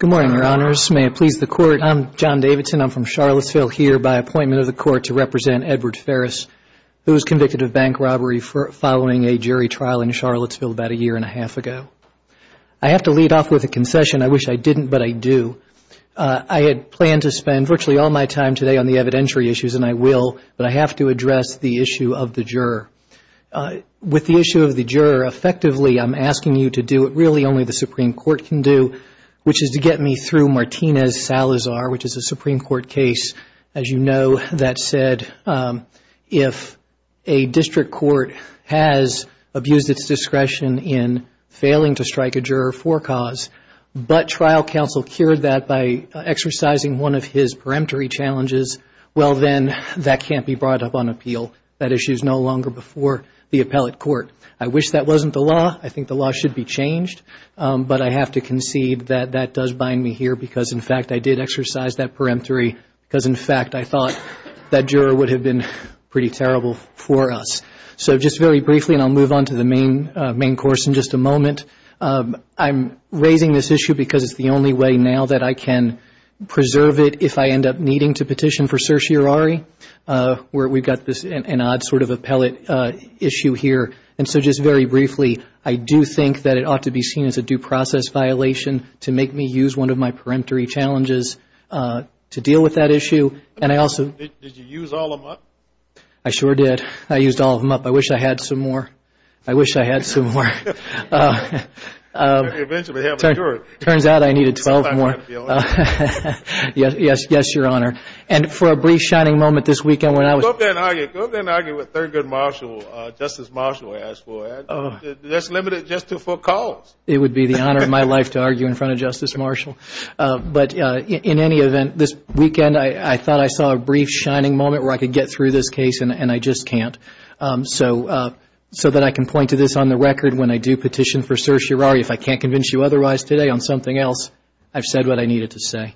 Good morning, Your Honors. May it please the Court, I'm John Davidson. I'm from Charlottesville here by appointment of the Court to represent Edward Ferris, who was convicted of bank robbery following a jury trial in Charlottesville about a year and a half ago. I have to lead off with a concession. I wish I didn't, but I do. I had planned to spend virtually all my time today on the evidentiary issues, and I will, but I have to address the issue of the juror. With the issue of the juror, effectively, I'm asking you to do what really only the Supreme Court can do, which is to get me through Martinez-Salazar, which is a Supreme Court case. As you know, that said, if a district court has abused its discretion in failing to strike a juror for cause, but trial counsel cured that by exercising one of his peremptory challenges, well, then, that can't be brought up on appeal. That issue is no longer before the appellate court. I wish that wasn't the law. I think the law should be changed, but I have to concede that that does bind me here because, in fact, I did exercise that peremptory because, in fact, I thought that juror would have been pretty terrible for us. So just very briefly, and I'll move on to the main course in just a moment, I'm raising this issue because it's the only way now that I can preserve it if I end up needing to petition for certiorari, where we've got this odd sort of appellate issue here. And so just very briefly, I do think that it ought to be seen as a due process violation to make me use one of my peremptory challenges to deal with that issue. Did you use all of them up? I sure did. I used all of them up. I wish I had some more. I wish I had some more. Eventually, he'll be cured. Turns out I needed 12 more. Sometimes you have to be alert. Yes, Your Honor. And for a brief shining moment this weekend when I was... Go up there and argue. Go up there and argue with Thurgood Marshall, Justice Marshall, I ask for. That's limited just to for cause. It would be the honor of my life to argue in front of Justice Marshall. But in any event, this weekend I thought I saw a brief shining moment where I could get through this case, and I just can't. So that I can point to this on the record when I do petition for certiorari. If I can't convince you otherwise today on something else, I've said what I needed to say.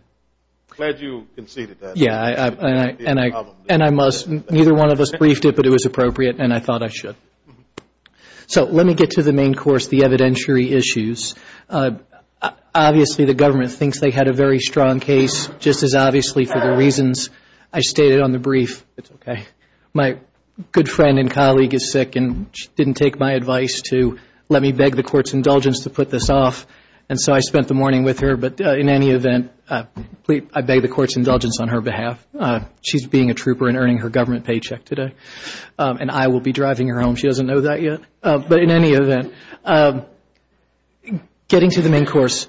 Glad you conceded that. Yes, and I must. Neither one of us briefed it, but it was appropriate, and I thought I should. So let me get to the main course, the evidentiary issues. Obviously, the government thinks they had a very strong case, just as obviously for the reasons I stated on the brief. It's okay. My good friend and colleague is sick, and she didn't take my advice to let me beg the court's indulgence to put this off. And so I spent the morning with her, but in any event, I beg the court's indulgence on her behalf. She's being a trooper and earning her government paycheck today. And I will be driving her home. She doesn't know that yet. But in any event, getting to the main course,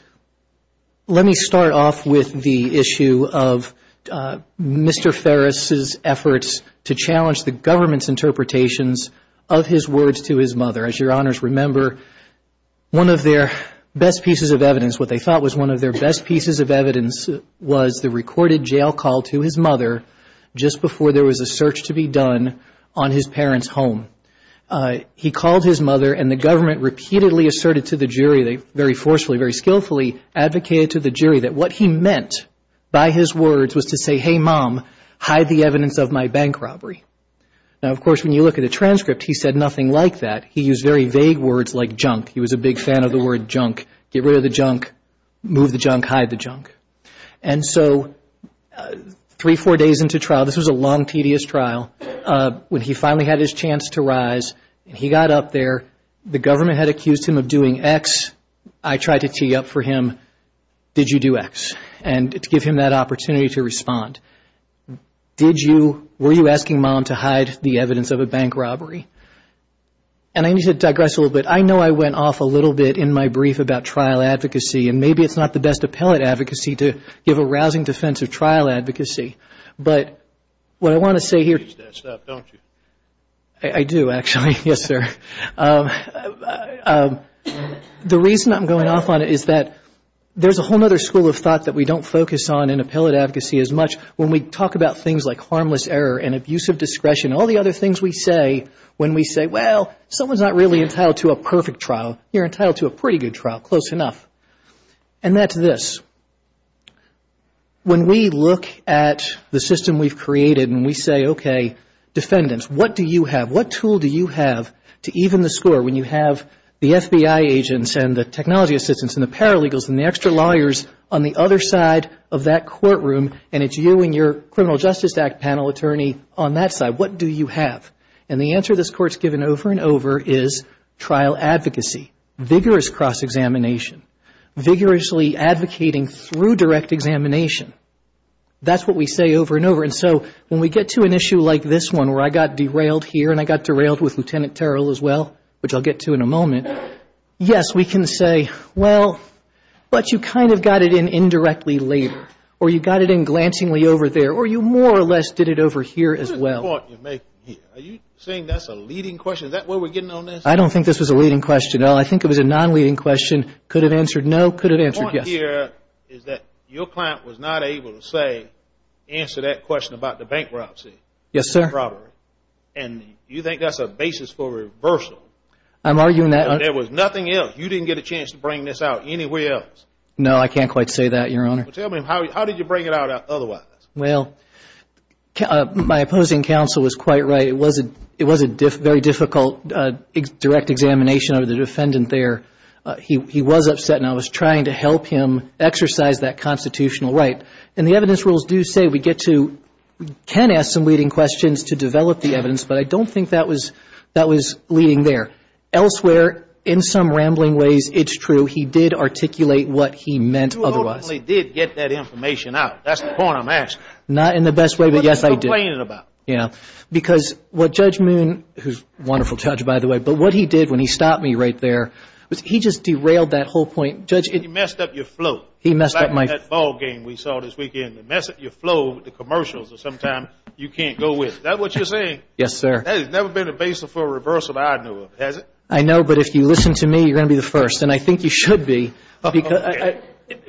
let me start off with the issue of Mr. Ferris's efforts to challenge the government's interpretations of his words to his mother. As your Honors remember, one of their best pieces of evidence, what they thought was one of their best pieces of evidence, was the recorded jail call to his mother just before there was a search to be done on his parents' home. He called his mother, and the government repeatedly asserted to the jury, very forcefully, very skillfully, advocated to the jury that what he meant by his words was to say, hey, Mom, hide the evidence of my bank robbery. Now, of course, when you look at the transcript, he said nothing like that. He used very vague words like junk. He was a big fan of the word junk, get rid of the junk, move the junk, hide the junk. And so three, four days into trial, this was a long, tedious trial. When he finally had his chance to rise, he got up there. The government had accused him of doing X. I tried to tee up for him, did you do X? And to give him that opportunity to respond. Did you, were you asking Mom to hide the evidence of a bank robbery? And I need to digress a little bit. I know I went off a little bit in my brief about trial advocacy, and maybe it's not the best appellate advocacy to give a rousing defense of trial advocacy. But what I want to say here. You use that stuff, don't you? I do, actually. Yes, sir. The reason I'm going off on it is that there's a whole other school of thought that we don't focus on in appellate advocacy as much when we talk about things like harmless error and abuse of discretion, all the other things we say when we say, well, someone's not really entitled to a perfect trial. You're entitled to a pretty good trial, close enough. And that's this. When we look at the system we've created and we say, okay, defendants, what do you have? What tool do you have to even the score when you have the FBI agents and the technology assistants and the paralegals and the extra lawyers on the other side of that courtroom, and it's you and your Criminal Justice Act panel attorney on that side, what do you have? And the answer this Court's given over and over is trial advocacy, vigorous cross-examination, vigorously advocating through direct examination. That's what we say over and over. And so when we get to an issue like this one where I got derailed here and I got derailed with Lieutenant Terrell as well, which I'll get to in a moment, yes, we can say, well, but you kind of got it in indirectly later. Or you got it in glancingly over there. Or you more or less did it over here as well. What is the point you're making here? Are you saying that's a leading question? Is that where we're getting on this? I don't think this was a leading question at all. I think it was a non-leading question. Could have answered no, could have answered yes. The point here is that your client was not able to say, answer that question about the bankruptcy. Yes, sir. And you think that's a basis for reversal. I'm arguing that. And there was nothing else. You didn't get a chance to bring this out anywhere else. No, I can't quite say that, Your Honor. Well, tell me, how did you bring it out otherwise? Well, my opposing counsel was quite right. It was a very difficult direct examination of the defendant there. He was upset, and I was trying to help him exercise that constitutional right. And the evidence rules do say we get to, can ask some leading questions to develop the evidence, but I don't think that was leading there. Elsewhere, in some rambling ways, it's true, he did articulate what he meant otherwise. You ultimately did get that information out. That's the point I'm asking. Not in the best way, but yes, I did. What are you complaining about? Because what Judge Moon, who's a wonderful judge, by the way, but what he did when he stopped me right there was he just derailed that whole point. Judge, it messed up your flow. He messed up my flow. Like that ball game we saw this weekend, it messed up your flow with the commercials that sometimes you can't go with. Is that what you're saying? Yes, sir. That has never been a basis for reversal that I knew of, has it? I know, but if you listen to me, you're going to be the first, and I think you should be.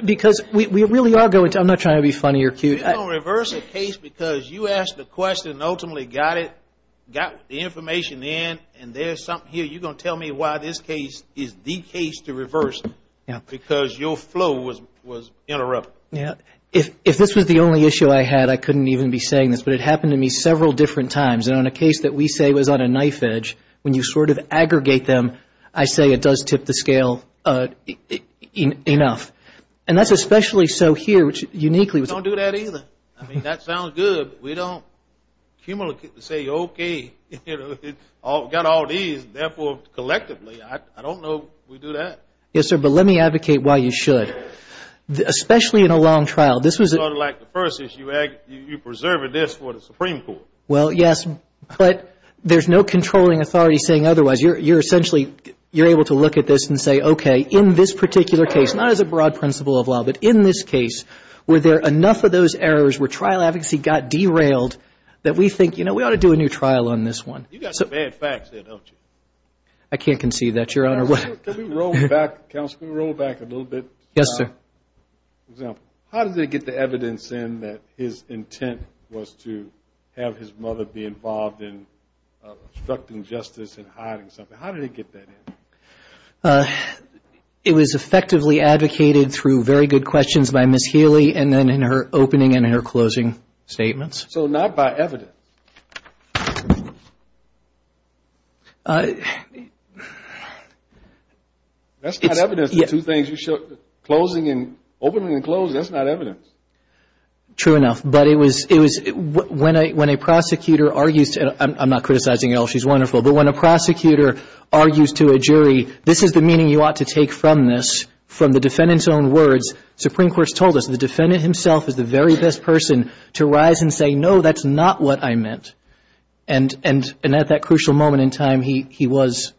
Because we really are going to. I'm not trying to be funny or cute. You're going to reverse a case because you asked the question and ultimately got it, got the information in, and there's something here. You're going to tell me why this case is the case to reverse because your flow was interrupted. If this was the only issue I had, I couldn't even be saying this, but it happened to me several different times. And on a case that we say was on a knife edge, when you sort of aggregate them, I say it does tip the scale enough. And that's especially so here, which uniquely was. We don't do that either. I mean, that sounds good, but we don't say, okay, got all these, therefore collectively. I don't know we do that. Yes, sir, but let me advocate why you should, especially in a long trial. This was. Sort of like the first issue, you're preserving this for the Supreme Court. Well, yes, but there's no controlling authority saying otherwise. You're essentially able to look at this and say, okay, in this particular case, not as a broad principle of law, but in this case, were there enough of those errors where trial advocacy got derailed that we think, you know, we ought to do a new trial on this one. You've got some bad facts there, don't you? I can't concede that, Your Honor. Counsel, can we roll back a little bit? Yes, sir. How did they get the evidence in that his intent was to have his mother be involved in obstructing justice and hiding something? How did they get that in? It was effectively advocated through very good questions by Ms. Healy and then in her opening and her closing statements. So not by evidence? That's not evidence. The two things you showed, opening and closing, that's not evidence. True enough, but it was when a prosecutor argues, and I'm not criticizing at all, she's wonderful, but when a prosecutor argues to a jury, this is the meaning you ought to take from this, from the defendant's own words. Supreme Court's told us the defendant himself is the very best person to rise and say, no, that's not what I meant. And at that crucial moment in time, he was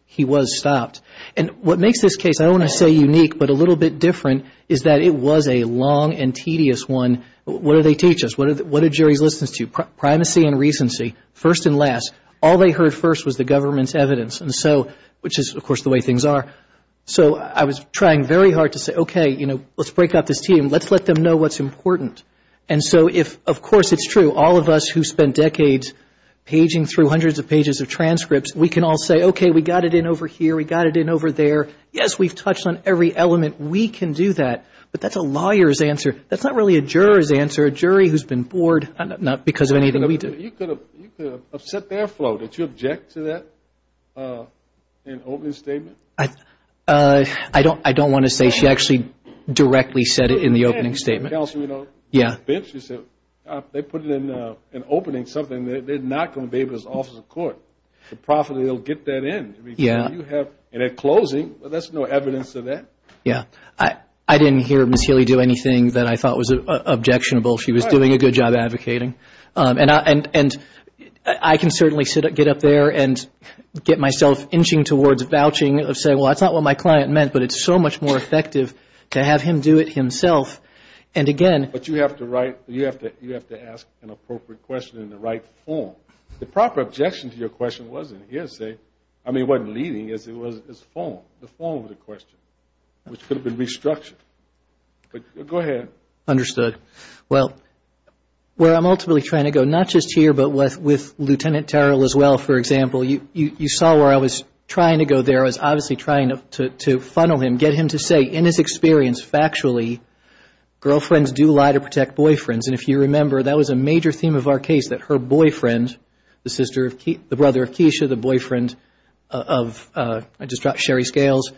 stopped. And what makes this case, I don't want to say unique, but a little bit different is that it was a long and tedious one. What do they teach us? What do juries listen to? Primacy and recency, first and last. All they heard first was the government's evidence, which is, of course, the way things are. So I was trying very hard to say, okay, let's break up this team. Let's let them know what's important. And so if, of course, it's true, all of us who spent decades paging through hundreds of pages of transcripts, we can all say, okay, we got it in over here. We got it in over there. Yes, we've touched on every element. We can do that. But that's a lawyer's answer. That's not really a juror's answer, a jury who's been bored, not because of anything we do. You could have upset their flow. Did you object to that in opening statement? I don't want to say. She actually directly said it in the opening statement. Yeah. They put it in an opening, something that they're not going to be able to offer the court. Profitably, they'll get that in. And at closing, there's no evidence of that. Yeah. I didn't hear Ms. Healy do anything that I thought was objectionable. She was doing a good job advocating. And I can certainly get up there and get myself inching towards vouching and say, well, that's not what my client meant, but it's so much more effective to have him do it himself. But you have to ask an appropriate question in the right form. The proper objection to your question wasn't his. I mean, it wasn't leading. It was his form, the form of the question, which could have been restructured. But go ahead. Understood. Well, where I'm ultimately trying to go, not just here but with Lieutenant Terrell as well, for example, you saw where I was trying to go there. I was obviously trying to funnel him, get him to say in his experience, factually, girlfriends do lie to protect boyfriends. And if you remember, that was a major theme of our case, that her boyfriend, the brother of Keisha, the boyfriend of Sherry Scales,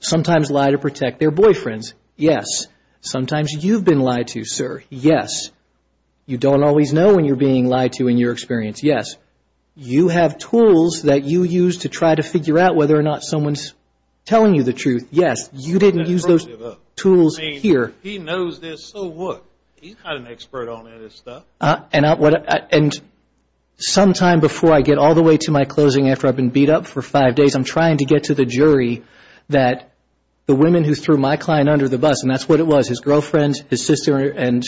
sometimes lie to protect their boyfriends. Yes. Sometimes you've been lied to, sir. Yes. You don't always know when you're being lied to in your experience. Yes. You have tools that you use to try to figure out whether or not someone's telling you the truth. Yes. You didn't use those tools here. I mean, he knows this, so what? He's not an expert on any of this stuff. And sometime before I get all the way to my closing after I've been beat up for five days, I'm trying to get to the jury that the women who threw my client under the bus, and that's what it was, his girlfriend, his sister, and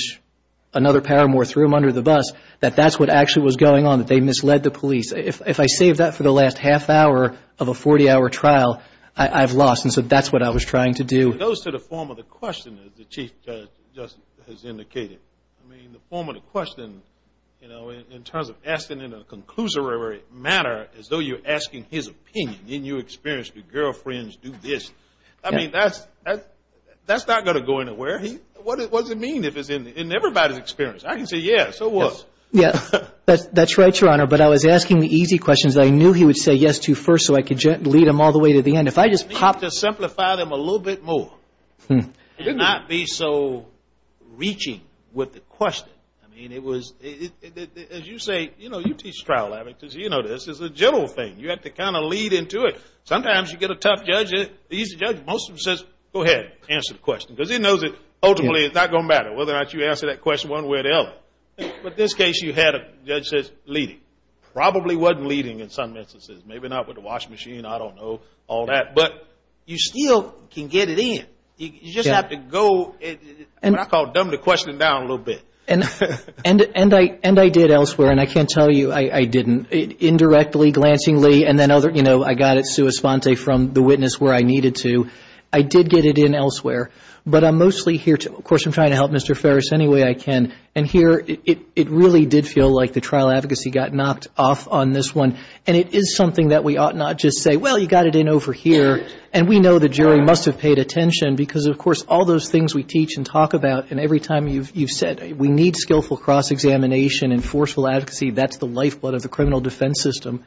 another paramour threw him under the bus, that that's what actually was going on, that they misled the police. If I save that for the last half hour of a 40-hour trial, I've lost. And so that's what I was trying to do. It goes to the form of the question that the Chief just has indicated. I mean, the form of the question, you know, in terms of asking in a conclusory manner as though you're asking his opinion, didn't you experience the girlfriends do this? I mean, that's not going to go anywhere. What does it mean if it's in everybody's experience? I can say, yes, so what? Yes. That's right, Your Honor, but I was asking the easy questions. I knew he would say yes to first so I could lead him all the way to the end. If I just popped it. You need to simplify them a little bit more and not be so reaching with the question. I mean, it was, as you say, you know, you teach trial advocates, you know, this is a general thing. You have to kind of lead into it. Sometimes you get a tough judge, the easy judge, most of them says, go ahead, answer the question, because he knows that ultimately it's not going to matter whether or not you answer that question one way or the other. But this case you had a judge that says leading. Probably wasn't leading in some instances. Maybe not with the washing machine, I don't know, all that. But you still can get it in. You just have to go, what I call dumb the question down a little bit. And I did elsewhere, and I can't tell you I didn't. Indirectly, glancingly, and then, you know, I got it sua sponte from the witness where I needed to. I did get it in elsewhere. But I'm mostly here to, of course, I'm trying to help Mr. Ferris any way I can. And here it really did feel like the trial advocacy got knocked off on this one. And it is something that we ought not just say, well, you got it in over here. And we know the jury must have paid attention because, of course, all those things we teach and talk about, and every time you've said, we need skillful cross-examination and forceful advocacy, that's the lifeblood of the criminal defense system.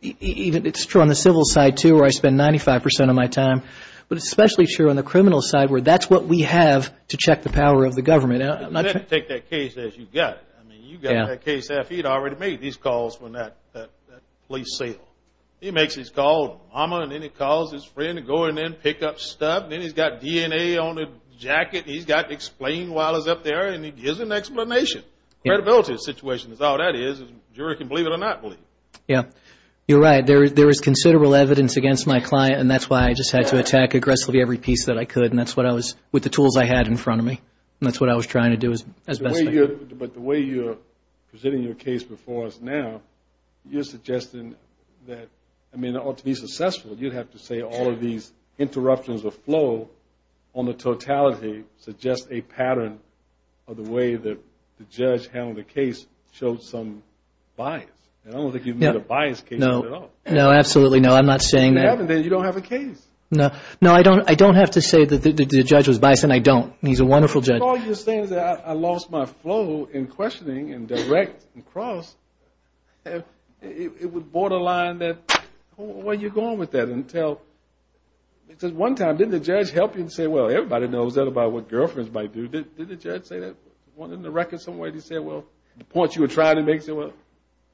It's true on the civil side, too, where I spend 95% of my time. But it's especially true on the criminal side where that's what we have to check the power of the government. Take that case as you got it. I mean, you got that case. He had already made these calls when that police sailed. He makes his call, and then he calls his friend to go in and pick up stuff. And then he's got DNA on a jacket. He's got explained while he's up there, and he gives an explanation. Credibility situation is all that is. The jury can believe it or not believe it. Yeah. You're right. There is considerable evidence against my client, and that's why I just had to attack aggressively every piece that I could. And that's what I was – with the tools I had in front of me. And that's what I was trying to do as best I could. But the way you're presenting your case before us now, you're suggesting that, I mean, in order to be successful, you'd have to say all of these interruptions of flow on the totality suggests a pattern of the way the judge handled the case showed some bias. I don't think you've made a biased case at all. No, absolutely not. I'm not saying that. Then you don't have a case. No, I don't have to say that the judge was biased, and I don't. He's a wonderful judge. All you're saying is that I lost my flow in questioning and direct and cross. It would borderline that. Where are you going with that? Because one time, didn't the judge help you and say, well, everybody knows that about what girlfriends might do. Didn't the judge say that? Wasn't it in the record somewhere that he said, well, the point you were trying to make is that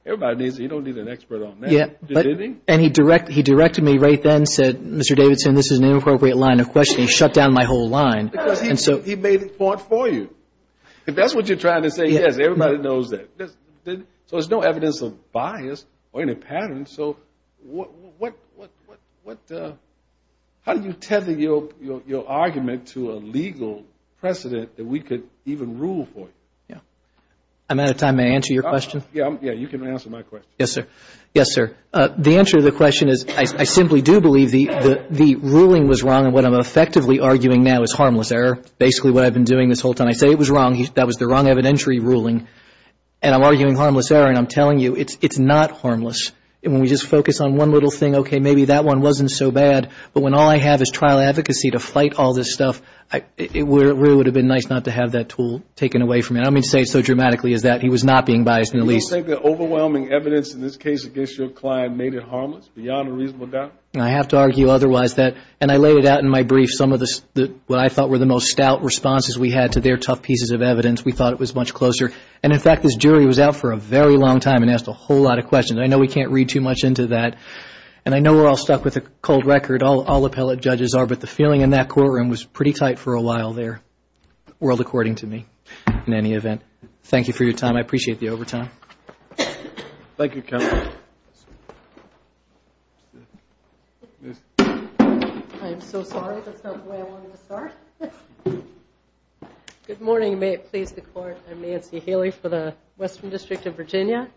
everybody needs it. You don't need an expert on that. And he directed me right then and said, Mr. Davidson, this is an inappropriate line of questioning. Shut down my whole line. He made the point for you. If that's what you're trying to say, yes, everybody knows that. So there's no evidence of bias or any pattern. So how do you tether your argument to a legal precedent that we could even rule for? I'm out of time. May I answer your question? Yes, you can answer my question. Yes, sir. The answer to the question is I simply do believe the ruling was wrong, and what I'm effectively arguing now is harmless error. Basically what I've been doing this whole time. I say it was wrong. That was the wrong evidentiary ruling. And I'm arguing harmless error, and I'm telling you, it's not harmless. When we just focus on one little thing, okay, maybe that one wasn't so bad, but when all I have is trial advocacy to fight all this stuff, it really would have been nice not to have that tool taken away from me. I don't mean to say it so dramatically as that. He was not being biased in the least. Do you think the overwhelming evidence in this case against your client made it harmless, beyond a reasonable doubt? I have to argue otherwise that, and I laid it out in my brief, some of what I thought were the most stout responses we had to their tough pieces of evidence. We thought it was much closer. And, in fact, this jury was out for a very long time and asked a whole lot of questions. I know we can't read too much into that, and I know we're all stuck with a cold record. All appellate judges are. But the feeling in that courtroom was pretty tight for a while there, world according to me, in any event. Thank you for your time. I appreciate the overtime. Thank you, counsel. Thank you. I am so sorry. That's not the way I wanted to start. Good morning. May it please the Court. I'm Nancy Haley for the Western District of Virginia.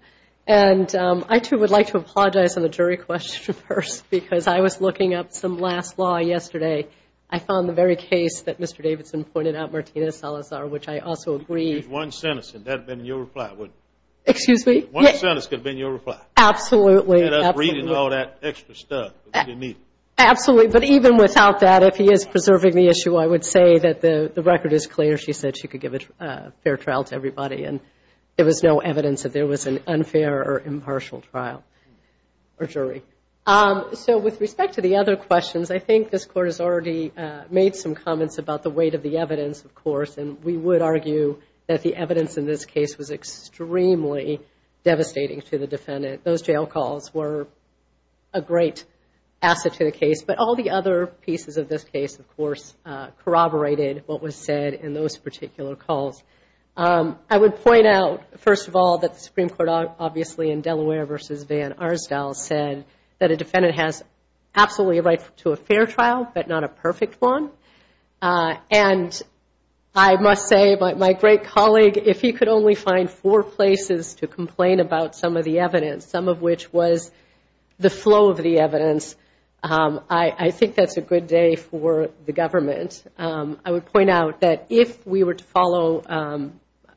And I, too, would like to apologize on the jury question first because I was looking up some last law yesterday. I found the very case that Mr. Davidson pointed out, Martina Salazar, which I also agree. There's one sentence, and that would have been your reply, wouldn't it? Excuse me? One sentence could have been your reply. Absolutely. And us reading all that extra stuff. Absolutely. But even without that, if he is preserving the issue, I would say that the record is clear. She said she could give a fair trial to everybody, and there was no evidence that there was an unfair or impartial trial or jury. So with respect to the other questions, I think this Court has already made some comments about the weight of the evidence, of course, and we would argue that the evidence in this case was extremely devastating to the defendant. Those jail calls were a great asset to the case. But all the other pieces of this case, of course, corroborated what was said in those particular calls. I would point out, first of all, that the Supreme Court, obviously, in Delaware v. Van Arsdale, said that a defendant has absolutely a right to a fair trial but not a perfect one. And I must say, my great colleague, if he could only find four places to complain about some of the evidence, some of which was the flow of the evidence, I think that's a good day for the government. I would point out that if we were to follow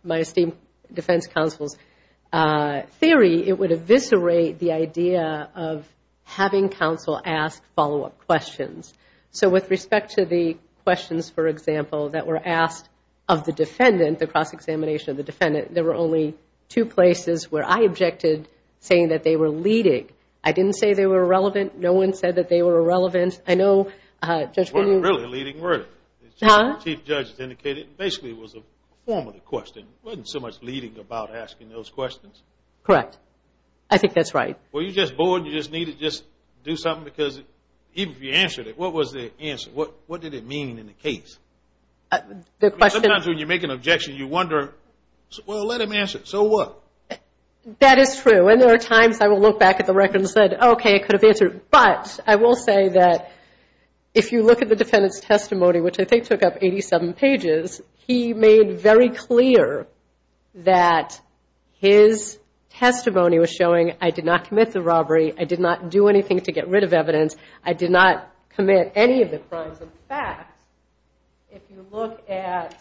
my esteemed defense counsel's theory, it would eviscerate the idea of having counsel ask follow-up questions. So with respect to the questions, for example, that were asked of the defendant, the cross-examination of the defendant, there were only two places where I objected, saying that they were leading. I didn't say they were irrelevant. No one said that they were irrelevant. I know Judge Gooding… It wasn't really a leading verdict. Huh? The Chief Judge has indicated it basically was a formative question. It wasn't so much leading about asking those questions. Correct. I think that's right. Well, you're just bored. You just need to do something because even if you answered it, what was the answer? What did it mean in the case? Sometimes when you make an objection, you wonder, well, let him answer it. So what? That is true. And there are times I will look back at the record and say, okay, I could have answered it. But I will say that if you look at the defendant's testimony, which I think took up 87 pages, he made very clear that his testimony was showing I did not commit the robbery. I did not do anything to get rid of evidence. I did not commit any of the crimes. If you look at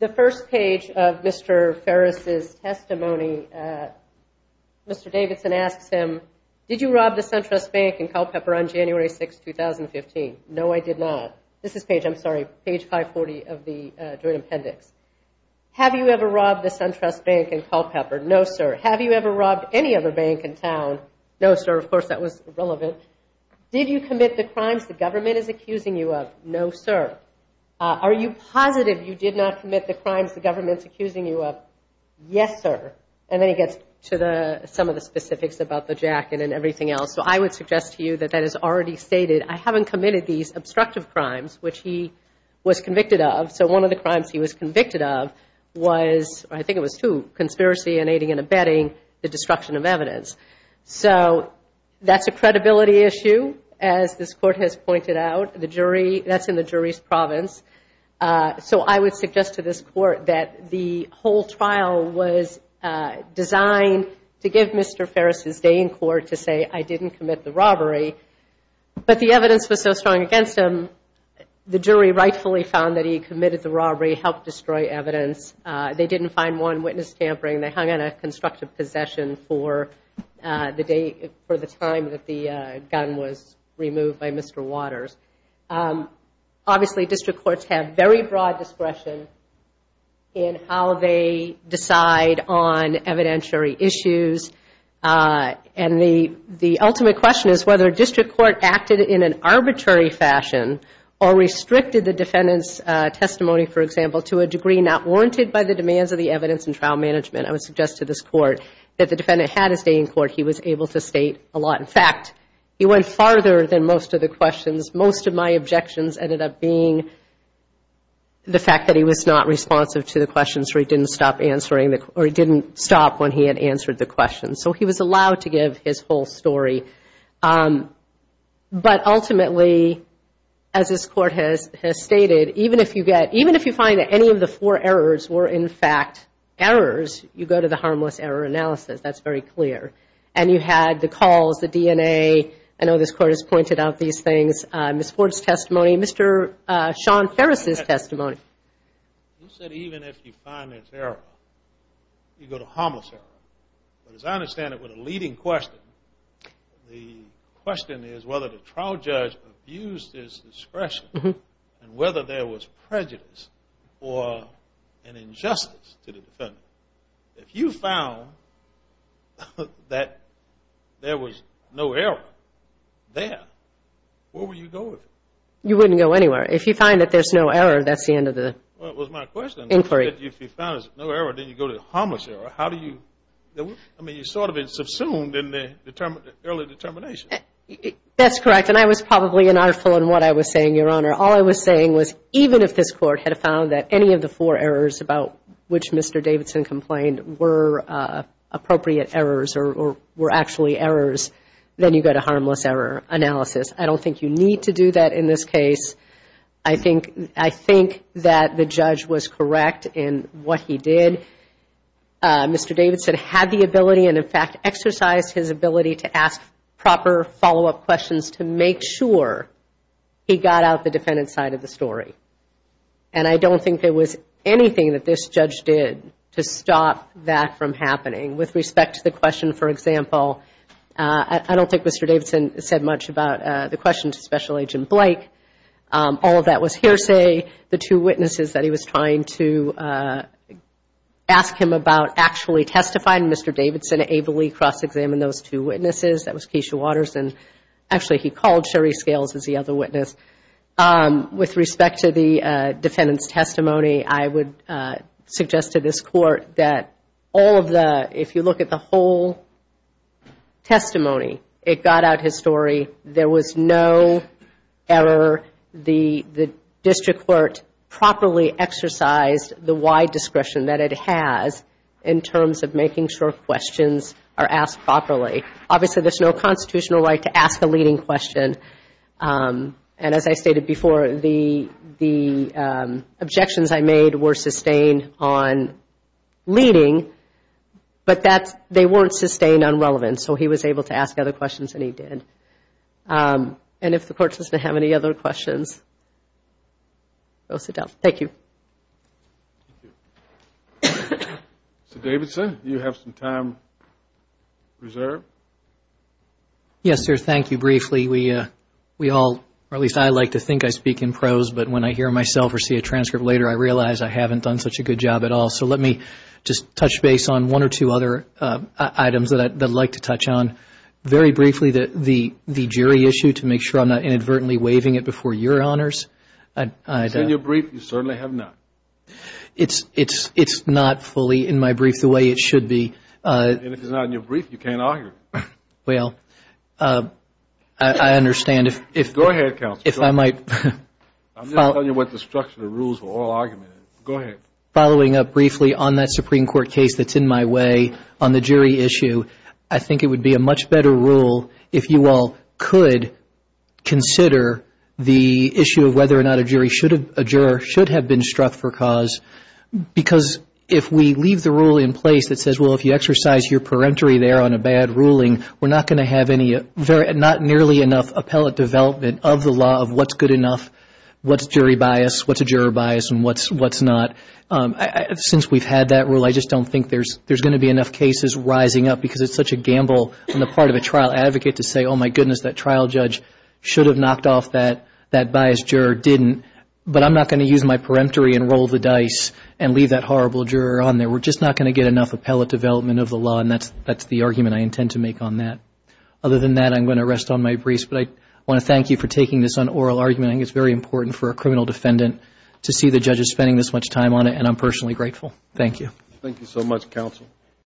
the first page of Mr. Ferris' testimony, Mr. Davidson asks him, Did you rob the SunTrust Bank in Culpeper on January 6, 2015? No, I did not. This is page 540 of the joint appendix. Have you ever robbed the SunTrust Bank in Culpeper? No, sir. Have you ever robbed any other bank in town? No, sir. Of course, that was irrelevant. Did you commit the crimes the government is accusing you of? No, sir. Are you positive you did not commit the crimes the government is accusing you of? Yes, sir. And then he gets to some of the specifics about the jacket and everything else. So I would suggest to you that that is already stated. I haven't committed these obstructive crimes, which he was convicted of. So one of the crimes he was convicted of was, I think it was two, conspiracy and aiding and abetting the destruction of evidence. So that's a credibility issue, as this Court has pointed out. That's in the jury's province. So I would suggest to this Court that the whole trial was designed to give Mr. Ferris his day in court to say, I didn't commit the robbery. But the evidence was so strong against him, the jury rightfully found that he committed the robbery, helped destroy evidence. They didn't find one witness tampering. They hung on a constructive possession for the time that the gun was removed by Mr. Waters. Obviously, district courts have very broad discretion in how they decide on evidentiary issues. And the ultimate question is whether a district court acted in an arbitrary fashion or restricted the defendant's testimony, for example, to a degree not warranted by the demands of the evidence and trial management. I would suggest to this Court that the defendant had his day in court. He was able to state a lot. In fact, he went farther than most of the questions. Most of my objections ended up being the fact that he was not responsive to the questions, or he didn't stop when he had answered the questions. So he was allowed to give his whole story. But ultimately, as this Court has stated, even if you find that any of the four errors were, in fact, errors, you go to the harmless error analysis. That's very clear. And you had the calls, the DNA. I know this Court has pointed out these things. Ms. Ford's testimony, Mr. Sean Ferris' testimony. You said even if you find an error, you go to harmless error. But as I understand it, with a leading question, the question is whether the trial judge abused his discretion and whether there was prejudice or an injustice to the defendant. If you found that there was no error there, where would you go with it? You wouldn't go anywhere. If you find that there's no error, that's the end of the inquiry. Well, it was my question. If you found there's no error, then you go to the harmless error. How do you – I mean, you sort of subsumed in the early determination. That's correct. And I was probably inaudible in what I was saying, Your Honor. All I was saying was even if this Court had found that any of the four errors about which Mr. Davidson complained were appropriate errors or were actually errors, then you go to harmless error analysis. I don't think you need to do that in this case. I think that the judge was correct in what he did. Mr. Davidson had the ability and, in fact, exercised his ability to ask proper follow-up questions to make sure he got out the defendant's side of the story. And I don't think there was anything that this judge did to stop that from happening. With respect to the question, for example, I don't think Mr. Davidson said much about the question to Special Agent Blake. All of that was hearsay. The two witnesses that he was trying to ask him about actually testifying, Mr. Davidson ably cross-examined those two witnesses. That was Keisha Watterson. Actually, he called Sherry Scales as the other witness. With respect to the defendant's testimony, I would suggest to this Court that if you look at the whole testimony, it got out his story. There was no error. The district court properly exercised the wide discretion that it has in terms of making sure questions are asked properly. Obviously, there's no constitutional right to ask a leading question. And as I stated before, the objections I made were sustained on leading, but they weren't sustained on relevance. So he was able to ask other questions, and he did. And if the Court doesn't have any other questions, go sit down. Thank you. Mr. Davidson, you have some time reserved. Yes, sir. Thank you. Briefly, we all, or at least I like to think I speak in prose, but when I hear myself or see a transcript later, I realize I haven't done such a good job at all. So let me just touch base on one or two other items that I'd like to touch on. Very briefly, the jury issue, to make sure I'm not inadvertently waiving it before your honors. In your brief, you certainly have not. It's not fully in my brief the way it should be. And if it's not in your brief, you can't argue. Well, I understand if I might. Go ahead, counsel. I'm just telling you what the structure of the rules for oral argument is. Go ahead. Following up briefly on that Supreme Court case that's in my way on the jury issue, I think it would be a much better rule if you all could consider the issue of whether or not a juror should have been struck for cause, because if we leave the rule in place that says, well, if you exercise your peremptory there on a bad ruling, we're not going to have not nearly enough appellate development of the law of what's good enough, what's jury bias, what's a juror bias, and what's not. Since we've had that rule, I just don't think there's going to be enough cases rising up, because it's such a gamble on the part of a trial advocate to say, oh, my goodness, that trial judge should have knocked off that biased juror, didn't, but I'm not going to use my peremptory and roll the dice and leave that horrible juror on there. We're just not going to get enough appellate development of the law, and that's the argument I intend to make on that. Other than that, I'm going to rest on my briefs, but I want to thank you for taking this on oral argument. I think it's very important for a criminal defendant to see the judges spending this much time on it, and I'm personally grateful. Thank you. Thank you so much, counsel.